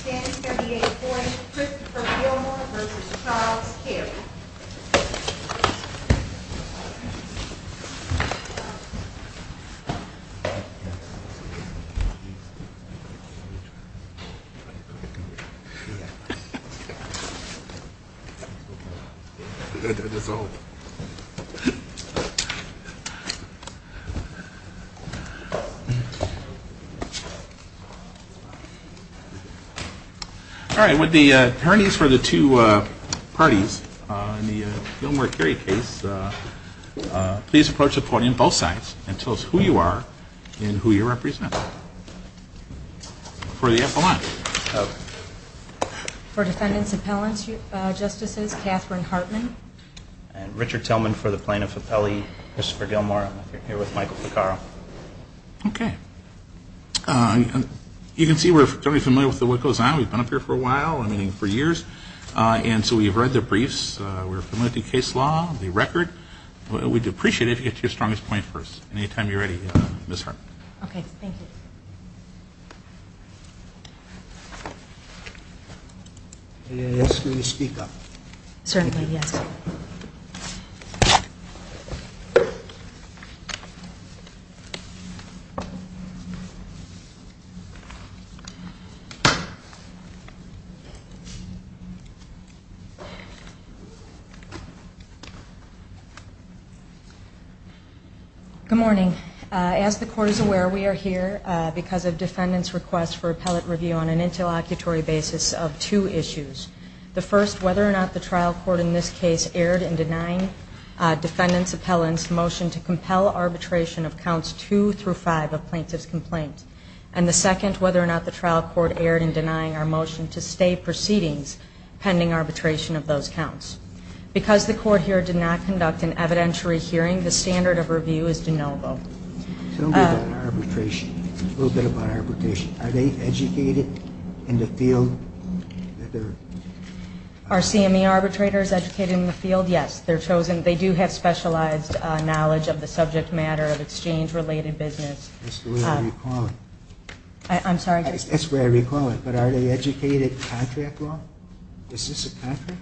Standing 78-40, Christopher Gilmore v. Charles Carey All right, would the attorneys for the two parties in the Gilmore-Carey case please approach the podium both sides and tell us who you are and who you represent. For the FLI. For Defendant's Appellants, Justices Catherine Hartman. And Richard Tillman for the Plaintiff's Appellee, Christopher Gilmore. I'm here with Michael Ficarro. Okay. You can see we're fairly familiar with what goes on. We've been up here for a while, I mean for years. And so we've read the briefs. We're familiar with the case law, the record. We'd appreciate it if you could get to your strongest point first. Anytime you're ready, Ms. Hartman. Okay, thank you. May I ask you to speak up? Certainly, yes. Good morning. As the Court is aware, we are here because of Defendant's request for appellate review on an interlocutory basis of two issues. The first, whether or not the trial court in this case erred in denying Defendant's Appellant's motion to compel arbitration of counts two through five of plaintiff's complaint. And the second, whether or not the trial court erred in denying our motion to stay proceedings pending arbitration of those counts. Because the Court here did not conduct an evidentiary hearing, the standard of review is de novo. Tell me about arbitration. A little bit about arbitration. Are they educated in the field? Are CME arbitrators educated in the field? Yes, they're chosen. They do have specialized knowledge of the subject matter of exchange-related business. That's the way I recall it. I'm sorry? That's the way I recall it. But are they educated in contract law? Is this a contract?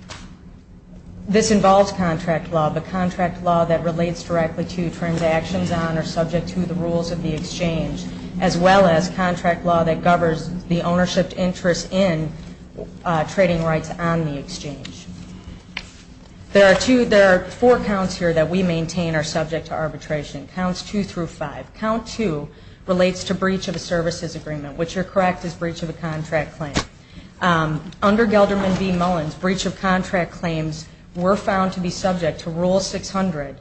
This involves contract law, but contract law that relates directly to transactions on or subject to the rules of the exchange, as well as contract law that governs the ownership interest in trading rights on the exchange. There are four counts here that we maintain are subject to arbitration, counts two through five. Count two relates to breach of a services agreement, which you're correct is breach of a contract claim. Under Gelderman v. Mullins, breach of contract claims were found to be subject to Rule 600,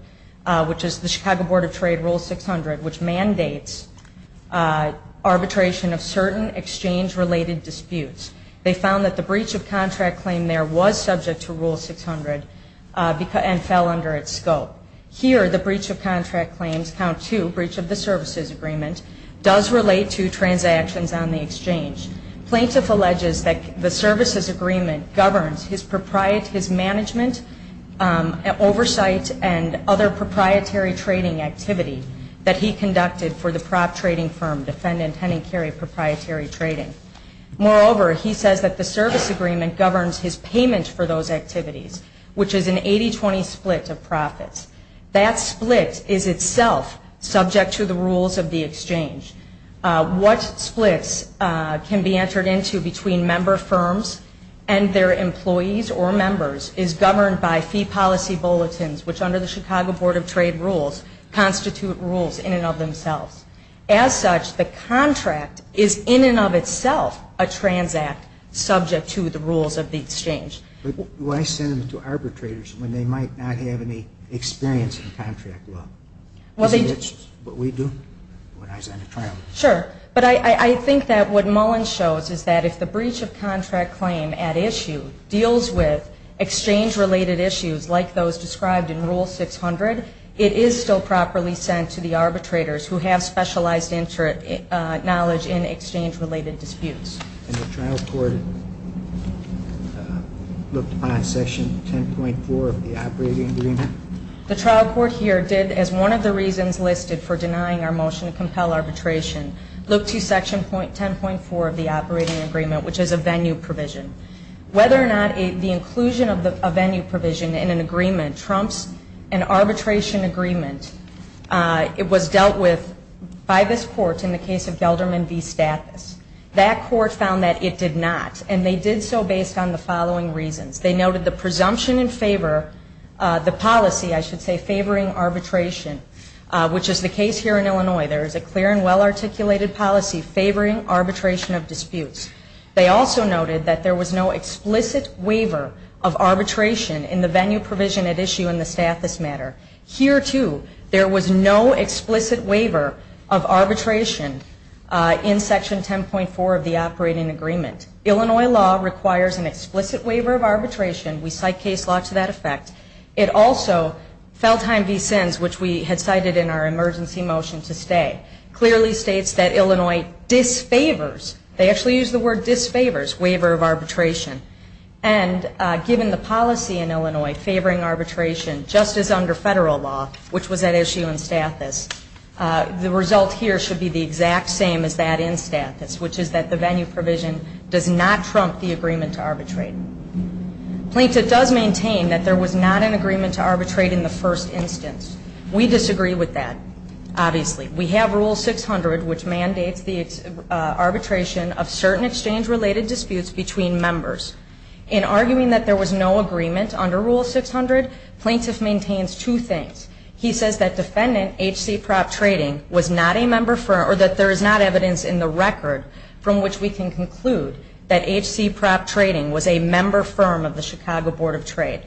which is the Chicago Board of Trade Rule 600, which mandates arbitration of certain exchange-related disputes. They found that the breach of contract claim there was subject to Rule 600 and fell under its scope. Here, the breach of contract claims, count two, breach of the services agreement, does relate to transactions on the exchange. Plaintiff alleges that the services agreement governs his management oversight and other proprietary trading activity that he conducted for the prop trading firm, Defendant Henning Carey Proprietary Trading. Moreover, he says that the service agreement governs his payment for those activities, which is an 80-20 split of profits. That split is itself subject to the rules of the exchange. What splits can be entered into between member firms and their employees or members is governed by fee policy bulletins, which under the Chicago Board of Trade rules constitute rules in and of themselves. As such, the contract is in and of itself a transact subject to the rules of the exchange. Why send them to arbitrators when they might not have any experience in contract law? Isn't that what we do when I send a trial? Sure, but I think that what Mullen shows is that if the breach of contract claim at issue deals with exchange-related issues like those described in Rule 600, it is still properly sent to the arbitrators who have specialized knowledge in exchange-related disputes. And the trial court looked upon Section 10.4 of the operating agreement? The trial court here did, as one of the reasons listed for denying our motion to compel arbitration, look to Section 10.4 of the operating agreement, which is a venue provision. Whether or not the inclusion of a venue provision in an agreement trumps an arbitration agreement, it was dealt with by this court in the case of Gelderman v. Stathis. That court found that it did not, and they did so based on the following reasons. They noted the presumption in favor, the policy, I should say, favoring arbitration, which is the case here in Illinois. There is a clear and well-articulated policy favoring arbitration of disputes. They also noted that there was no explicit waiver of arbitration in the venue provision at issue in the Stathis matter. Here, too, there was no explicit waiver of arbitration in Section 10.4 of the operating agreement. Illinois law requires an explicit waiver of arbitration. We cite case law to that effect. It also, Feldheim v. Sins, which we had cited in our emergency motion to stay, clearly states that Illinois disfavors, they actually use the word disfavors, waiver of arbitration. And given the policy in Illinois favoring arbitration, just as under federal law, which was at issue in Stathis, the result here should be the exact same as that in Stathis, which is that the venue provision does not trump the agreement to arbitrate. Plaintiff does maintain that there was not an agreement to arbitrate in the first instance. We disagree with that, obviously. We have Rule 600, which mandates the arbitration of certain exchange-related disputes between members. In arguing that there was no agreement under Rule 600, plaintiff maintains two things. He says that defendant H.C. Propp Trading was not a member firm or that there is not evidence in the record from which we can conclude that H.C. Propp Trading was a member firm of the Chicago Board of Trade.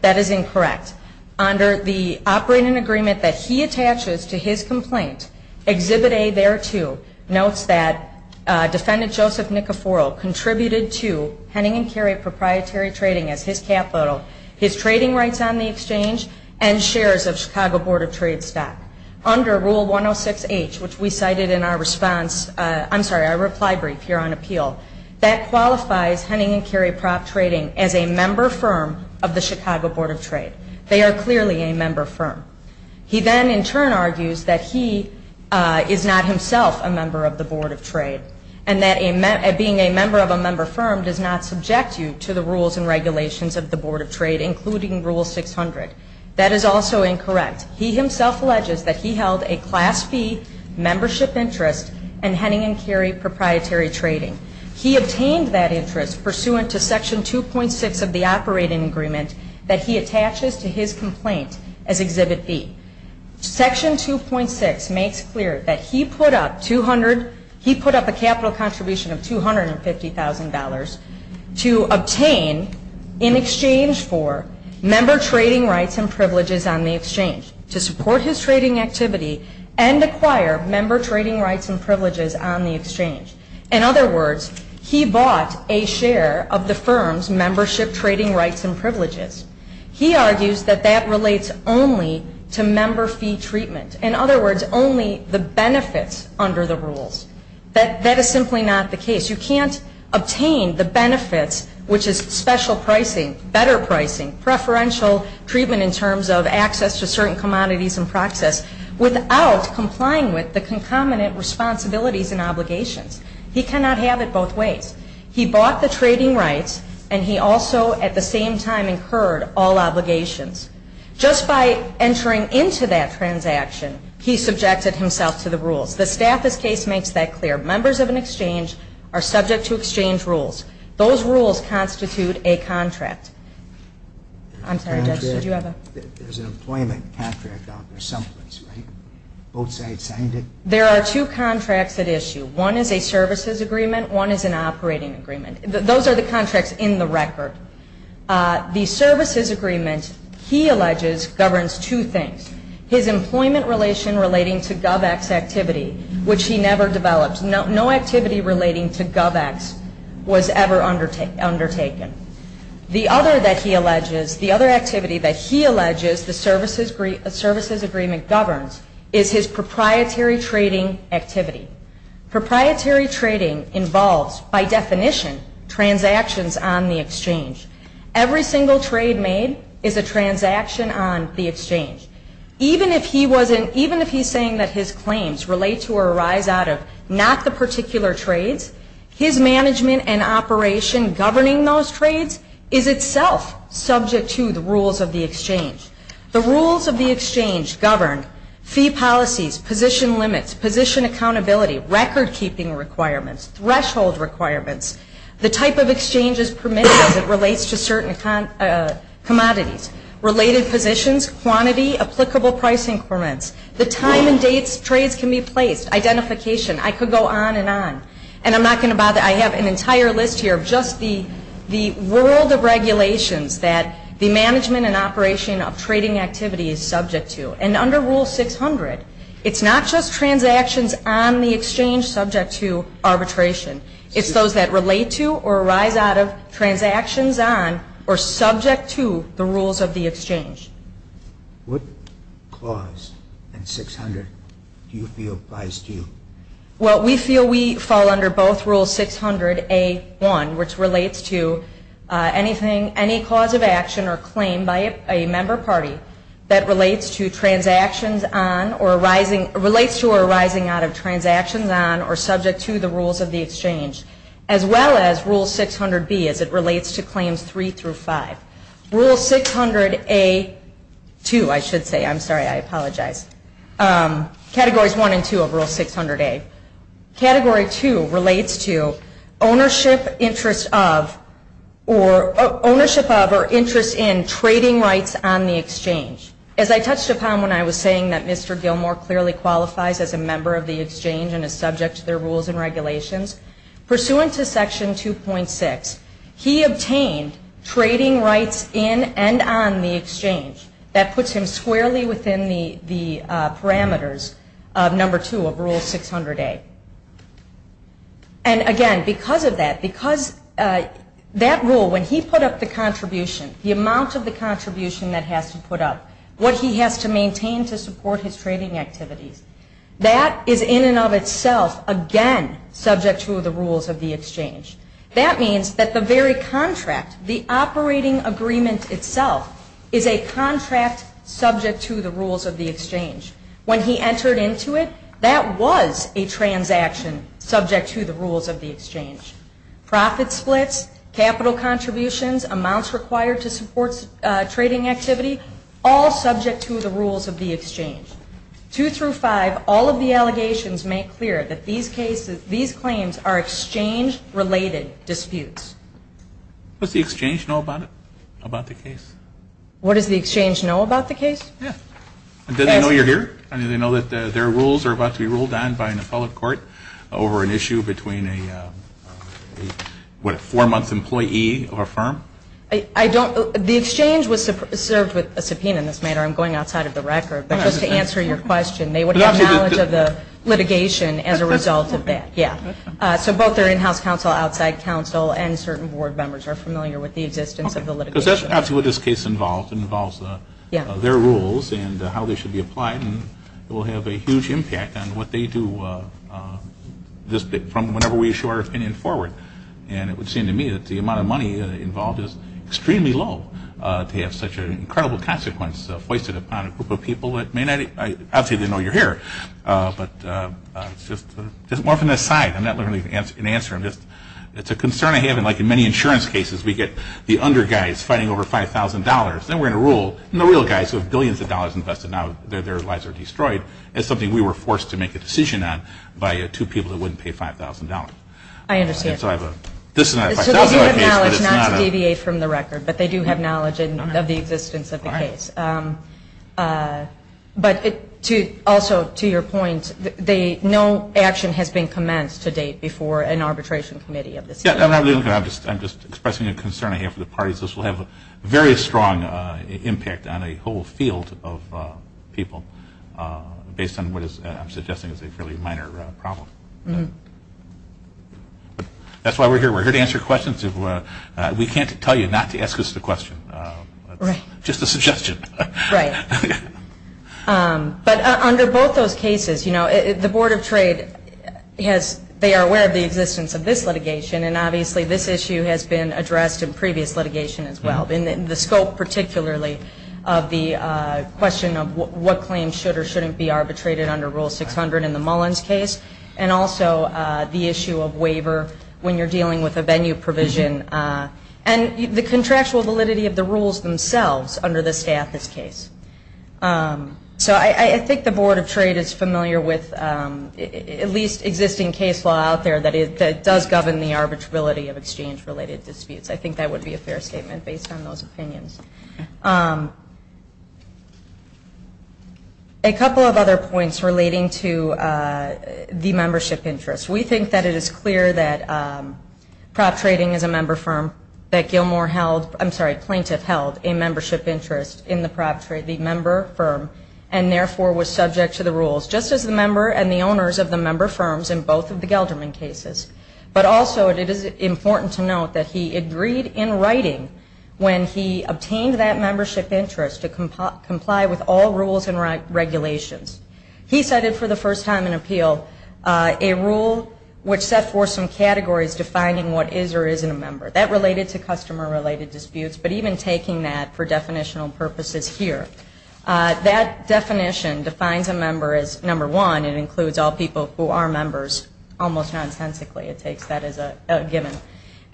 That is incorrect. Under the operating agreement that he attaches to his complaint, Exhibit A there, too, notes that defendant Joseph Nicoforo contributed to Henning & Carey Proprietary Trading as his capital, his trading rights on the exchange, and shares of Chicago Board of Trade stock. Under Rule 106H, which we cited in our reply brief here on appeal, that qualifies Henning & Carey Propp Trading as a member firm of the Chicago Board of Trade. They are clearly a member firm. He then in turn argues that he is not himself a member of the Board of Trade and that being a member of a member firm does not subject you to the rules and regulations of the Board of Trade, including Rule 600. That is also incorrect. He himself alleges that he held a Class B membership interest in Henning & Carey Proprietary Trading. He obtained that interest pursuant to Section 2.6 of the operating agreement that he attaches to his complaint as Exhibit B. Section 2.6 makes clear that he put up a capital contribution of $250,000 to obtain in exchange for member trading rights and privileges on the exchange to support his trading activity and acquire member trading rights and privileges on the exchange. In other words, he bought a share of the firm's membership trading rights and privileges. He argues that that relates only to member fee treatment. In other words, only the benefits under the rules. That is simply not the case. You can't obtain the benefits, which is special pricing, better pricing, preferential treatment in terms of access to certain commodities and process, without complying with the concomitant responsibilities and obligations. He cannot have it both ways. He bought the trading rights and he also at the same time incurred all obligations. Just by entering into that transaction, he subjected himself to the rules. The Stafford case makes that clear. Members of an exchange are subject to exchange rules. Those rules constitute a contract. I'm sorry, Judge, did you have a... There's an employment contract out there someplace, right? Both sides signed it? There are two contracts at issue. One is a services agreement, one is an operating agreement. Those are the contracts in the record. The services agreement, he alleges, governs two things. His employment relation relating to GovEx activity, which he never developed. No activity relating to GovEx was ever undertaken. The other that he alleges, the other activity that he alleges the services agreement governs, is his proprietary trading activity. Proprietary trading involves, by definition, transactions on the exchange. Every single trade made is a transaction on the exchange. Even if he's saying that his claims relate to or arise out of not the particular trades, his management and operation governing those trades is itself subject to the rules of the exchange. The rules of the exchange govern fee policies, position limits, position accountability, record keeping requirements, threshold requirements, the type of exchanges permitted as it relates to certain commodities, related positions, quantity, applicable pricing requirements, the time and dates trades can be placed, identification, I could go on and on. And I'm not going to bother. I have an entire list here of just the world of regulations that the management and operation of trading activity is subject to. And under Rule 600, it's not just transactions on the exchange subject to arbitration. It's those that relate to or arise out of transactions on or subject to the rules of the exchange. What clause in 600 do you feel applies to you? Well, we feel we fall under both Rule 600A1, which relates to anything, any cause of action or claim by a member party that relates to transactions on or arising, relates to or arising out of transactions on or subject to the rules of the exchange, as well as Rule 600B as it relates to Claims 3 through 5. Rule 600A2, I should say. I'm sorry. I apologize. Categories 1 and 2 of Rule 600A. Category 2 relates to ownership interest of or ownership of or interest in trading rights on the exchange. As I touched upon when I was saying that Mr. Gilmore clearly qualifies as a member of the exchange and is subject to their rules and regulations, pursuant to Section 2.6, he obtained trading rights in and on the exchange. That puts him squarely within the parameters of Number 2 of Rule 600A. And again, because of that, because that rule, when he put up the contribution, the amount of the contribution that has to put up, what he has to maintain to support his trading activities, that is in and of itself, again, subject to the rules of the exchange. That means that the very contract, the operating agreement itself, is a contract subject to the rules of the exchange. When he entered into it, that was a transaction subject to the rules of the exchange. Profit splits, capital contributions, amounts required to support trading activity, all subject to the rules of the exchange. Two through five, all of the allegations make clear that these claims are exchange-related disputes. What does the exchange know about it, about the case? What does the exchange know about the case? Yeah. Does it know you're here? Does it know that their rules are about to be ruled on by an appellate court over an issue between a four-month employee of a firm? The exchange was served with a subpoena in this matter. I'm going outside of the record. But just to answer your question, they would have knowledge of the litigation as a result of that. Yeah. So both their in-house counsel, outside counsel, and certain board members are familiar with the existence of the litigation. Because that's actually what this case involves. It involves their rules and how they should be applied, and it will have a huge impact on what they do from whenever we issue our opinion forward. And it would seem to me that the amount of money involved is extremely low to have such an incredible consequence foisted upon a group of people that may not even know you're here. But just more from this side. I'm not going to answer them. It's a concern I have. Like in many insurance cases, we get the under guys fighting over $5,000. Then we're going to rule on the real guys who have billions of dollars invested. Now their lives are destroyed. It's something we were forced to make a decision on by two people that wouldn't pay $5,000. I understand. So this is not a $5,000 case. So they do have knowledge, not to deviate from the record, but they do have knowledge of the existence of the case. But also to your point, no action has been commenced to date before an arbitration committee of this type. I'm just expressing a concern I have for the parties. This will have a very strong impact on a whole field of people based on what I'm suggesting is a fairly minor problem. That's why we're here. We're here to answer questions. We can't tell you not to ask us the question. It's just a suggestion. Right. But under both those cases, the Board of Trade, they are aware of the existence of this litigation, and obviously this issue has been addressed in previous litigation as well. The scope particularly of the question of what claims should or shouldn't be arbitrated under Rule 600 in the Mullins case, and also the issue of waiver when you're dealing with a venue provision, and the contractual validity of the rules themselves under the Stathis case. So I think the Board of Trade is familiar with at least existing case law out there that does govern the arbitrability of exchange-related disputes. I think that would be a fair statement based on those opinions. A couple of other points relating to the membership interest. We think that it is clear that Prop Trading is a member firm, that Gilmore held, I'm sorry, Plaintiff held a membership interest in the Prop Trade, the member firm, and therefore was subject to the rules just as the member and the owners of the member firms in both of the Gelderman cases. But also it is important to note that he agreed in writing when he obtained the membership interest to comply with all rules and regulations. He cited for the first time in appeal a rule which set forth some categories defining what is or isn't a member. That related to customer-related disputes, but even taking that for definitional purposes here. That definition defines a member as, number one, it includes all people who are members, almost nonsensically it takes that as a given.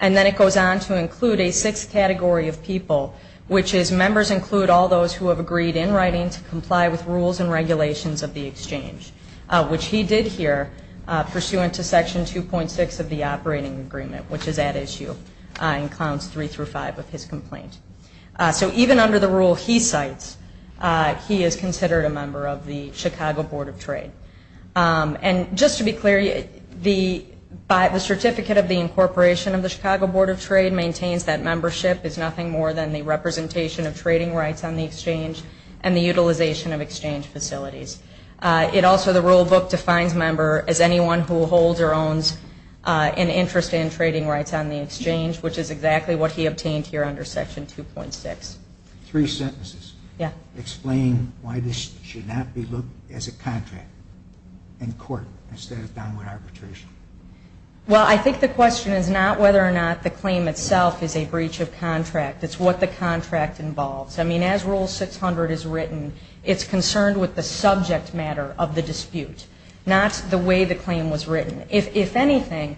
And then it goes on to include a sixth category of people, which is members include all those who have agreed in writing to comply with rules and regulations of the exchange, which he did here pursuant to Section 2.6 of the Operating Agreement, which is at issue in Clounds 3 through 5 of his complaint. So even under the rule he cites, he is considered a member of the Chicago Board of Trade. And just to be clear, the certificate of the incorporation of the Chicago Board of Trade maintains that membership is nothing more than the representation of trading rights on the exchange and the utilization of exchange facilities. It also, the rule book defines member as anyone who holds or owns an interest in trading rights on the exchange, which is exactly what he obtained here under Section 2.6. Three sentences. Yeah. Explain why this should not be looked at as a contract in court instead of downward arbitration. Well, I think the question is not whether or not the claim itself is a breach of contract. It's what the contract involves. I mean, as Rule 600 is written, it's concerned with the subject matter of the dispute, not the way the claim was written. If anything,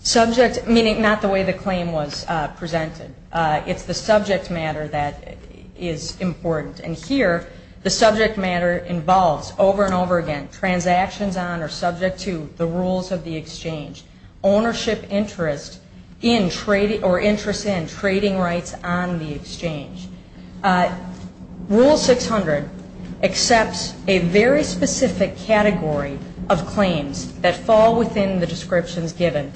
subject, meaning not the way the claim was presented. It's the subject matter that is important. And here the subject matter involves over and over again transactions on or subject to the rules of the exchange, ownership interest in trading or interest in trading rights on the exchange. Rule 600 accepts a very specific category of claims that fall within the descriptions given.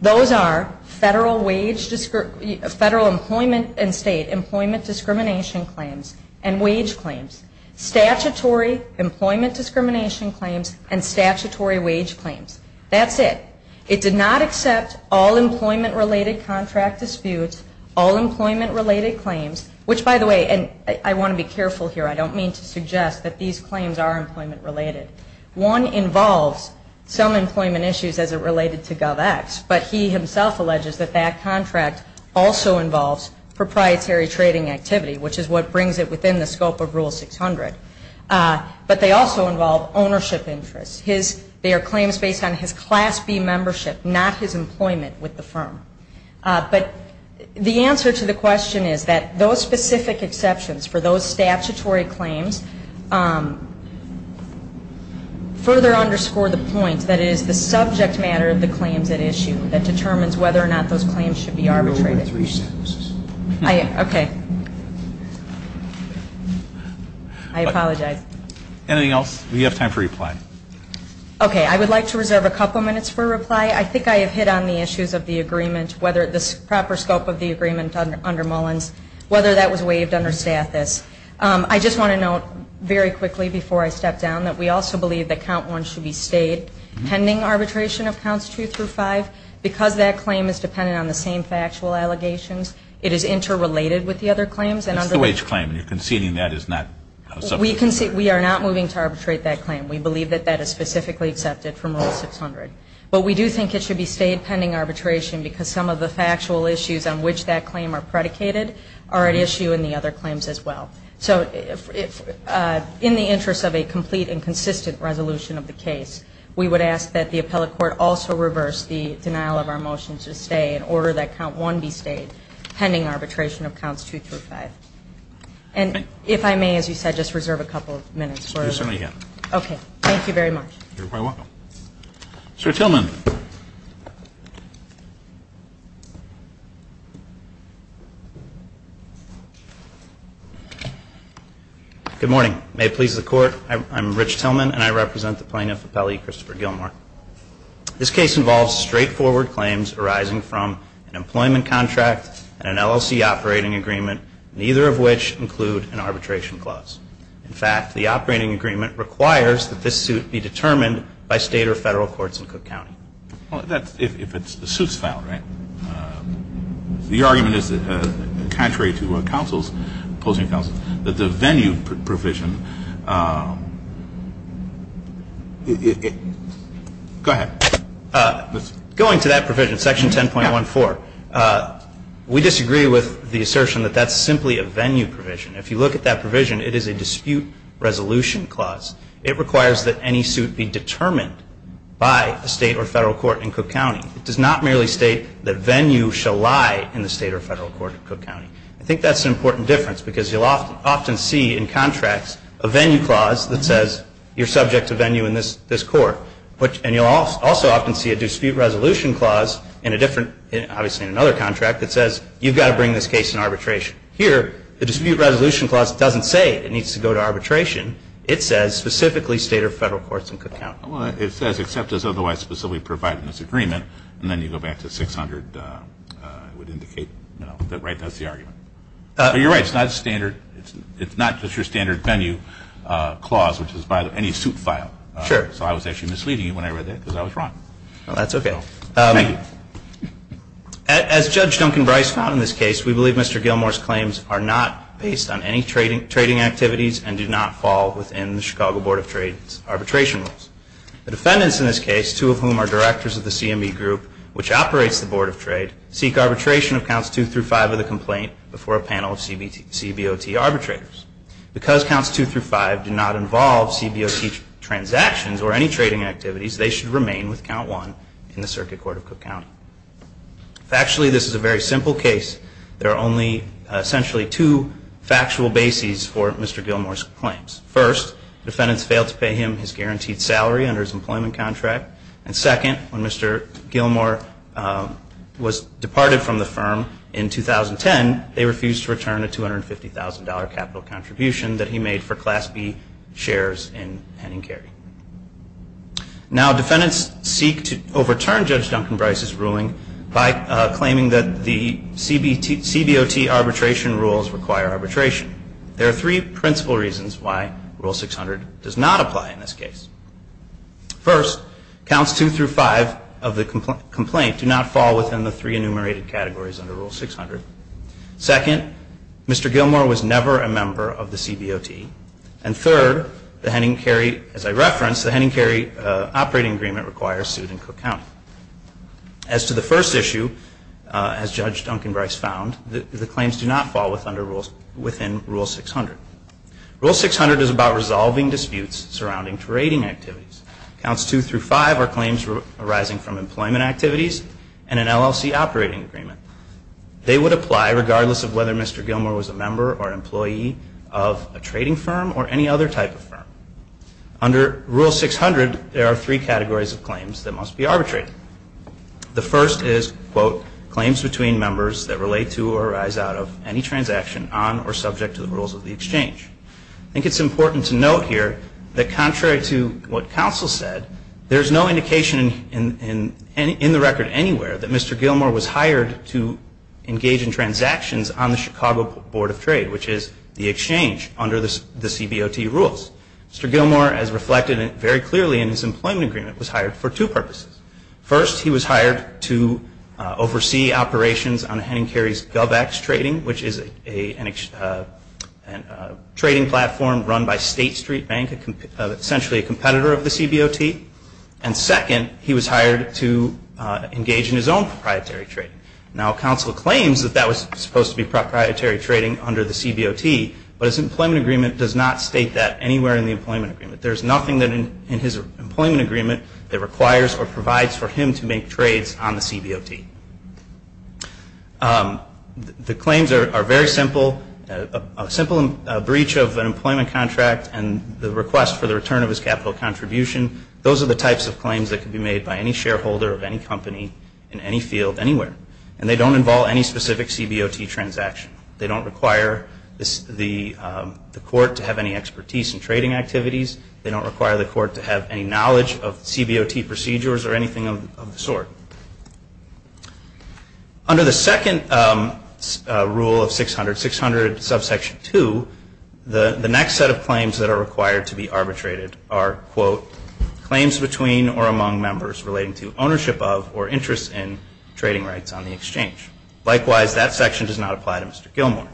Those are federal wage, federal employment and state employment discrimination claims and wage claims, statutory employment discrimination claims and statutory wage claims. That's it. It did not accept all employment-related contract disputes, all employment-related claims, which, by the way, and I want to be careful here. I don't mean to suggest that these claims are employment-related. One involves some employment issues as it related to GovX, but he himself alleges that that contract also involves proprietary trading activity, which is what brings it within the scope of Rule 600. But they also involve ownership interests. They are claims based on his Class B membership, not his employment with the firm. But the answer to the question is that those specific exceptions for those statutory claims further underscore the point that it is the subject matter of the claims at issue that determines whether or not those claims should be arbitrated. Okay. I apologize. Anything else? We have time for reply. Okay. I would like to reserve a couple minutes for reply. I think I have hit on the issues of the agreement, whether the proper scope of the agreement under Mullins, whether that was waived under status. I just want to note very quickly before I step down that we also believe that Count 1 should be stayed pending arbitration of Counts 2 through 5. Because that claim is dependent on the same factual allegations, it is interrelated with the other claims. That's the wage claim, and you're conceding that is not subject to arbitration. We are not moving to arbitrate that claim. We believe that that is specifically accepted from Rule 600. But we do think it should be stayed pending arbitration because some of the factual issues on which that claim are predicated are at issue in the other claims as well. So in the interest of a complete and consistent resolution of the case, we would ask that the appellate court also reverse the denial of our motion to stay in order that Count 1 be stayed pending arbitration of Counts 2 through 5. And if I may, as you said, just reserve a couple minutes for reply. You certainly can. Okay. Thank you very much. You're quite welcome. Mr. Tillman. Good morning. May it please the Court, I'm Rich Tillman, and I represent the Plaintiff Appellee, Christopher Gilmore. This case involves straightforward claims arising from an employment contract and an LLC operating agreement, neither of which include an arbitration clause. In fact, the operating agreement requires that this suit be determined by State or Federal courts in Cook County. Well, that's if the suit's filed, right? The argument is that contrary to counsel's, opposing counsel, that the venue provision Go ahead. Going to that provision, Section 10.14, we disagree with the assertion that that's simply a venue provision. If you look at that provision, it is a dispute resolution clause. It requires that any suit be determined by a State or Federal court in Cook County. It does not merely state that venue shall lie in the State or Federal court in Cook County. I think that's an important difference because you'll often see in contracts a venue clause that says you're subject to venue in this court. And you'll also often see a dispute resolution clause in a different, obviously in another contract, that says you've got to bring this case in arbitration. Here, the dispute resolution clause doesn't say it needs to go to arbitration. It says specifically State or Federal courts in Cook County. Well, it says except as otherwise specifically provided in this agreement. And then you go back to 600. It would indicate that, right, that's the argument. But you're right. It's not just your standard venue clause, which is by any suit filed. Sure. So I was actually misleading you when I read that because I was wrong. Well, that's okay. Thank you. As Judge Duncan Bryce found in this case, we believe Mr. Gilmour's claims are not based on any trading activities and do not fall within the Chicago Board of Trade's arbitration rules. The defendants in this case, two of whom are directors of the CME Group, which operates the Board of Trade, seek arbitration of Counts 2 through 5 of the complaint before a panel of CBOT arbitrators. Because Counts 2 through 5 do not involve CBOT transactions or any trading activities, they should remain with Count 1 in the Circuit Court of Cook County. Factually, this is a very simple case. There are only essentially two factual bases for Mr. Gilmour's claims. First, defendants failed to pay him his guaranteed salary under his employment contract. And second, when Mr. Gilmour was departed from the firm in 2010, they refused to return a $250,000 capital contribution that he made for Class B shares in Henning Carey. Now, defendants seek to overturn Judge Duncan Bryce's ruling by claiming that the CBOT arbitration rules require arbitration. There are three principal reasons why Rule 600 does not apply in this case. First, Counts 2 through 5 of the complaint do not fall within the three enumerated categories under Rule 600. Second, Mr. Gilmour was never a member of the CBOT. And third, as I referenced, the Henning Carey operating agreement requires suit in Cook County. As to the first issue, as Judge Duncan Bryce found, the claims do not fall within Rule 600. Rule 600 is about resolving disputes surrounding trading activities. Counts 2 through 5 are claims arising from employment activities and an LLC operating agreement. They would apply regardless of whether Mr. Gilmour was a member or employee of a trading firm or any other type of firm. Under Rule 600, there are three categories of claims that must be arbitrated. The first is, quote, claims between members that relate to or arise out of any transaction on or subject to the rules of the exchange. I think it's important to note here that contrary to what counsel said, there's no indication in the record anywhere that Mr. Gilmour was hired to engage in transactions on the Chicago Board of Trade, which is the exchange under the CBOT rules. Mr. Gilmour, as reflected very clearly in his employment agreement, was hired for two purposes. First, he was hired to oversee operations on Henning Carey's Govex Trading, which is a trading platform run by State Street Bank, essentially a competitor of the CBOT. And second, he was hired to engage in his own proprietary trading. Now, counsel claims that that was supposed to be proprietary trading under the CBOT, but his employment agreement does not state that anywhere in the employment agreement. There's nothing in his employment agreement that requires or provides for him to make trades on the CBOT. The claims are very simple. A simple breach of an employment contract and the request for the return of his capital contribution, those are the types of claims that can be made by any shareholder of any company in any field anywhere. And they don't involve any specific CBOT transaction. They don't require the court to have any expertise in trading activities. They don't require the court to have any knowledge of CBOT procedures or anything of the sort. Under the second rule of 600, subsection 2, the next set of claims that are required to be arbitrated are, quote, claims between or among members relating to ownership of or interest in trading rights on the exchange. Likewise, that section does not apply to Mr. Gilmour.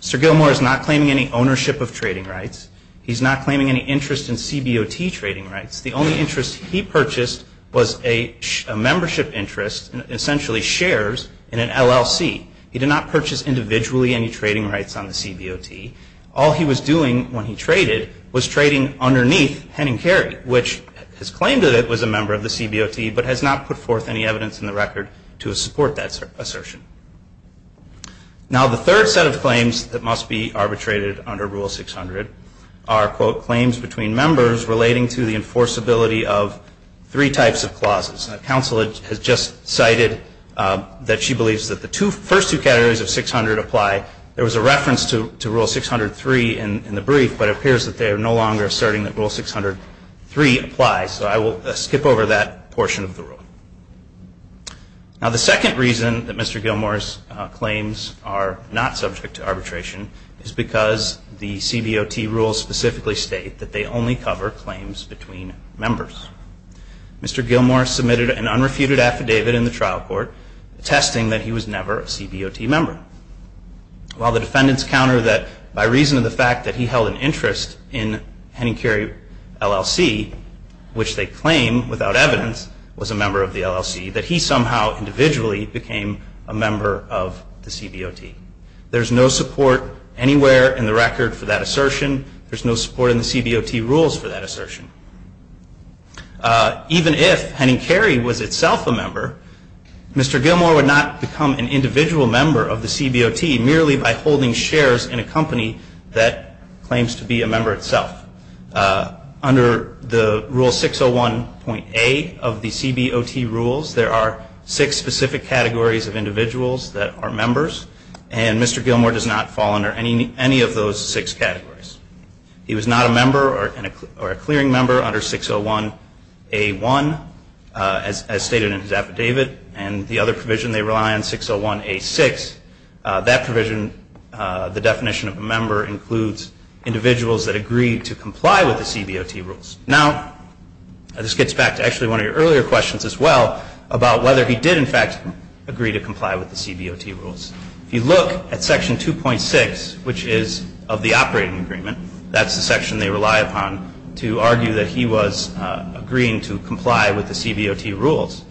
Mr. Gilmour is not claiming any ownership of trading rights. He's not claiming any interest in CBOT trading rights. The only interest he purchased was a membership interest, essentially shares, in an LLC. He did not purchase individually any trading rights on the CBOT. All he was doing when he traded was trading underneath Henning Carey, which has claimed that it was a member of the CBOT, but has not put forth any evidence in the record to support that assertion. Now, the third set of claims that must be arbitrated under Rule 600 are, quote, claims between members relating to the enforceability of three types of clauses. Counsel has just cited that she believes that the first two categories of 600 apply. There was a reference to Rule 603 in the brief, but it appears that they are no longer asserting that Rule 603 applies, so I will skip over that portion of the rule. Now, the second reason that Mr. Gilmour's claims are not subject to arbitration is because the CBOT rules specifically state that they only cover claims between members. Mr. Gilmour submitted an unrefuted affidavit in the trial court attesting that he was never a CBOT member. While the defendants counter that by reason of the fact that he held an interest in Henning Carey LLC, which they claim without evidence was a member of the LLC, that he somehow individually became a member of the CBOT. There's no support anywhere in the record for that assertion. There's no support in the CBOT rules for that assertion. Even if Henning Carey was itself a member, Mr. Gilmour would not become an individual member of the CBOT merely by holding shares in a company that claims to be a member itself. Under the Rule 601.A of the CBOT rules, there are six specific categories of individuals that are members, and Mr. Gilmour does not fall under any of those six categories. He was not a member or a clearing member under 601.A1, as stated in his affidavit, and the other provision they rely on, 601.A6, that provision, the definition of a member, includes individuals that agree to comply with the CBOT rules. Now, this gets back to actually one of your earlier questions as well, about whether he did, in fact, agree to comply with the CBOT rules. If you look at Section 2.6, which is of the operating agreement, that's the section they rely upon to argue that he was agreeing to comply with the CBOT rules.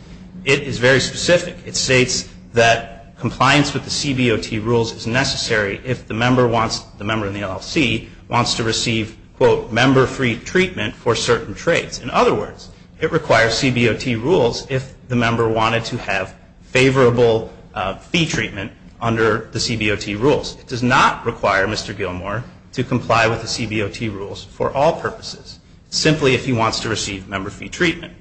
It is very specific. It states that compliance with the CBOT rules is necessary if the member wants, the member in the LLC, wants to receive, quote, member-free treatment for certain traits. In other words, it requires CBOT rules if the member wanted to have favorable fee treatment under the CBOT rules. It does not require Mr. Gilmour to comply with the CBOT rules for all purposes, simply if he wants to receive member-free treatment.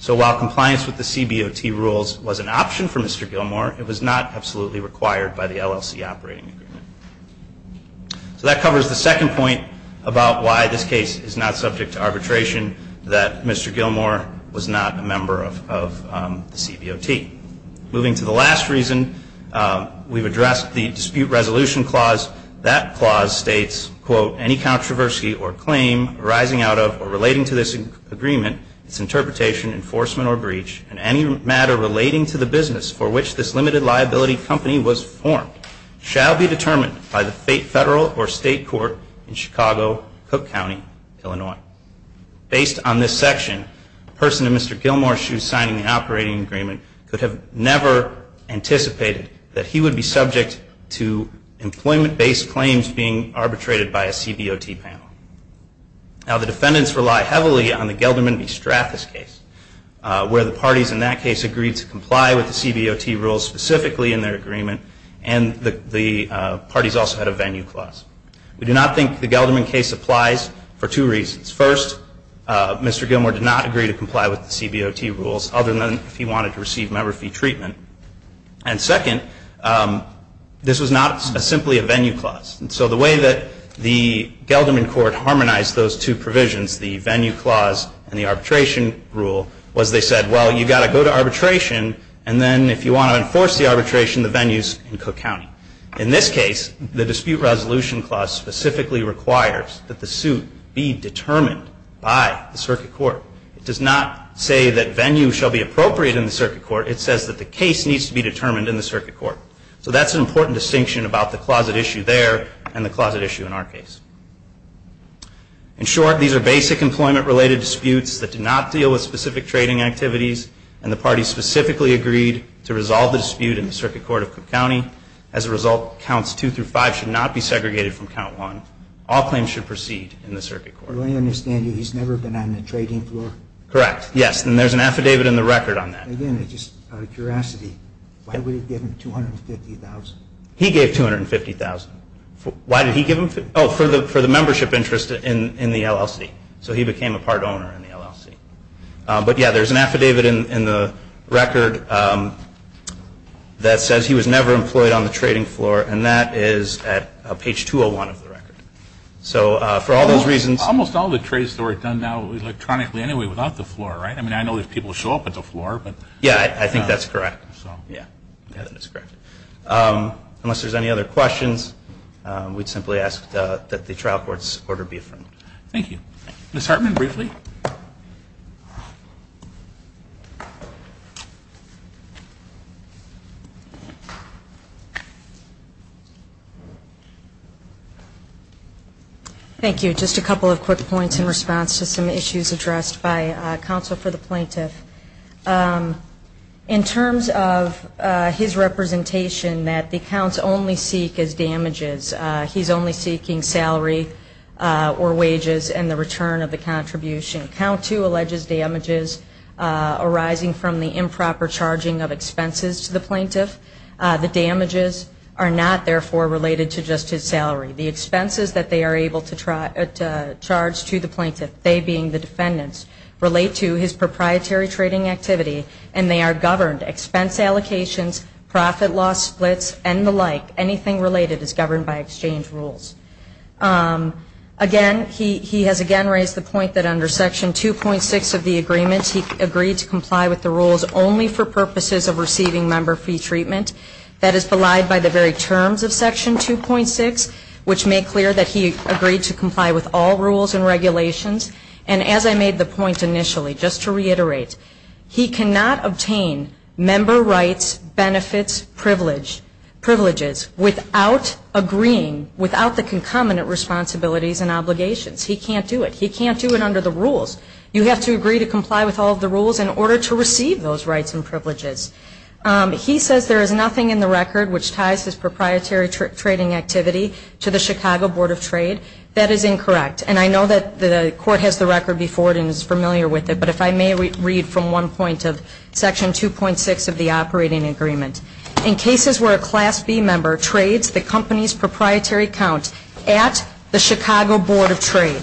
So while compliance with the CBOT rules was an option for Mr. Gilmour, it was not absolutely required by the LLC operating agreement. So that covers the second point about why this case is not subject to arbitration, that Mr. Gilmour was not a member of the CBOT. Moving to the last reason, we've addressed the dispute resolution clause. That clause states, quote, any controversy or claim arising out of or relating to this agreement, its interpretation, enforcement, or breach, and any matter relating to the business for which this limited liability company was formed shall be determined by the federal or state court in Chicago, Cook County, Illinois. Based on this section, a person in Mr. Gilmour's shoes signing the operating agreement could have never anticipated that he would be subject to employment-based claims being arbitrated by a CBOT panel. Now, the defendants rely heavily on the Gelderman v. Strathis case, where the parties in that case agreed to comply with the CBOT rules specifically in their agreement, and the parties also had a venue clause. We do not think the Gelderman case applies for two reasons. First, Mr. Gilmour did not agree to comply with the CBOT rules, other than if he wanted to receive member fee treatment. And second, this was not simply a venue clause. And so the way that the Gelderman court harmonized those two provisions, the venue clause and the arbitration rule, was they said, well, you've got to go to arbitration, and then if you want to enforce the arbitration, the venue's in Cook County. In this case, the dispute resolution clause specifically requires that the suit be determined by the circuit court. It does not say that venue shall be appropriate in the circuit court. It says that the case needs to be determined in the circuit court. So that's an important distinction about the closet issue there and the closet issue in our case. In short, these are basic employment-related disputes that do not deal with specific trading activities, and the parties specifically agreed to resolve the dispute in the circuit court of Cook County. As a result, counts two through five should not be segregated from count one. All claims should proceed in the circuit court. But let me understand you, he's never been on the trading floor? Correct, yes, and there's an affidavit in the record on that. Again, just out of curiosity, why would it give him $250,000? He gave $250,000. Why did he give him? Oh, for the membership interest in the LLC. So he became a part owner in the LLC. But, yeah, there's an affidavit in the record that says he was never employed on the trading floor, and that is at page 201 of the record. So for all those reasons – Almost all the trades that were done now electronically anyway without the floor, right? I mean, I know there's people who show up at the floor, but – Yeah, I think that's correct. Yeah, I think that's correct. Unless there's any other questions, we'd simply ask that the trial court's order be affirmed. Thank you. Ms. Hartman, briefly. Thank you. Just a couple of quick points in response to some issues addressed by counsel for the plaintiff. In terms of his representation that the counts only seek as damages, he's only seeking salary or wages and the return of the contribution. Count 2 alleges damages arising from the improper charging of expenses to the plaintiff. The damages are not, therefore, related to just his salary. The expenses that they are able to charge to the plaintiff, they being the defendants, relate to his proprietary trading activity, and they are governed. Expense allocations, profit-loss splits, and the like, anything related is governed by exchange rules. Again, he has again raised the point that under Section 2.6 of the agreement, he agreed to comply with the rules only for purposes of receiving member fee treatment. That is belied by the very terms of Section 2.6, which make clear that he agreed to comply with all rules and regulations. And as I made the point initially, just to reiterate, he cannot obtain member rights, benefits, privileges without agreeing, without the concomitant responsibilities and obligations. He can't do it. He can't do it under the rules. You have to agree to comply with all of the rules in order to receive those rights and privileges. He says there is nothing in the record which ties his proprietary trading activity to the Chicago Board of Trade. That is incorrect. And I know that the Court has the record before it and is familiar with it, but if I may read from one point of Section 2.6 of the operating agreement. In cases where a Class B member trades the company's proprietary account at the Chicago Board of Trade,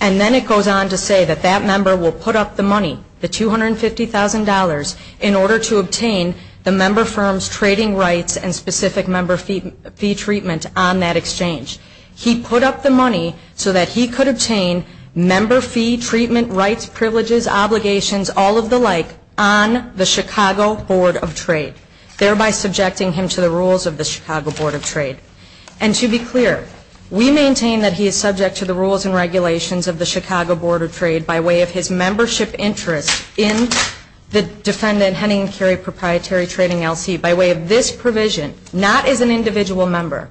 and then it goes on to say that that member will put up the money, the $250,000, in order to obtain the member firm's trading rights and specific member fee treatment on that exchange. He put up the money so that he could obtain member fee treatment rights, privileges, obligations, all of the like, on the Chicago Board of Trade, thereby subjecting him to the rules of the Chicago Board of Trade. And to be clear, we maintain that he is subject to the rules and regulations of the Chicago Board of Trade by way of his membership interest in the defendant Henning & Carey proprietary trading L.C. by way of this provision, not as an individual member.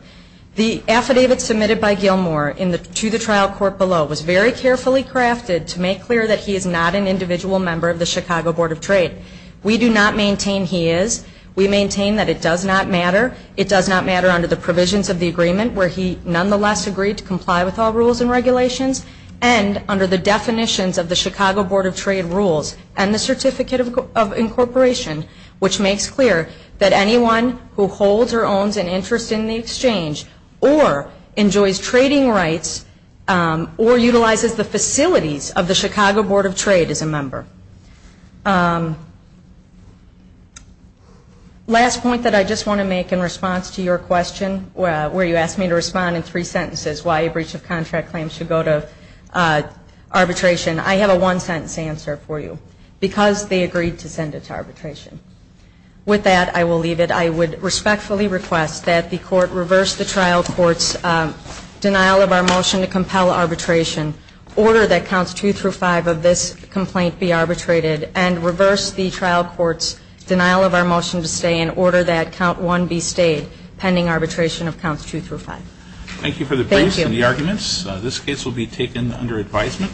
The affidavit submitted by Gilmour to the trial court below was very carefully crafted to make clear that he is not an individual member of the Chicago Board of Trade. We do not maintain he is. We maintain that it does not matter. It does not matter under the provisions of the agreement where he nonetheless agreed to comply with all rules and regulations and under the definitions of the Chicago Board of Trade rules and the Certificate of Incorporation, which makes clear that anyone who holds or owns an interest in the exchange or enjoys trading rights or utilizes the facilities of the Chicago Board of Trade is a member. Last point that I just want to make in response to your question where you asked me to respond in three sentences why a breach of contract claim should go to arbitration. I have a one-sentence answer for you. Because they agreed to send it to arbitration. With that, I will leave it. I would respectfully request that the court reverse the trial court's denial of our motion to compel arbitration, order that counts 2 through 5 of this complaint be arbitrated, and reverse the trial court's denial of our motion to stay in order that count 1 be stayed pending arbitration of counts 2 through 5. Thank you for the briefs and the arguments. This case will be taken under advisement.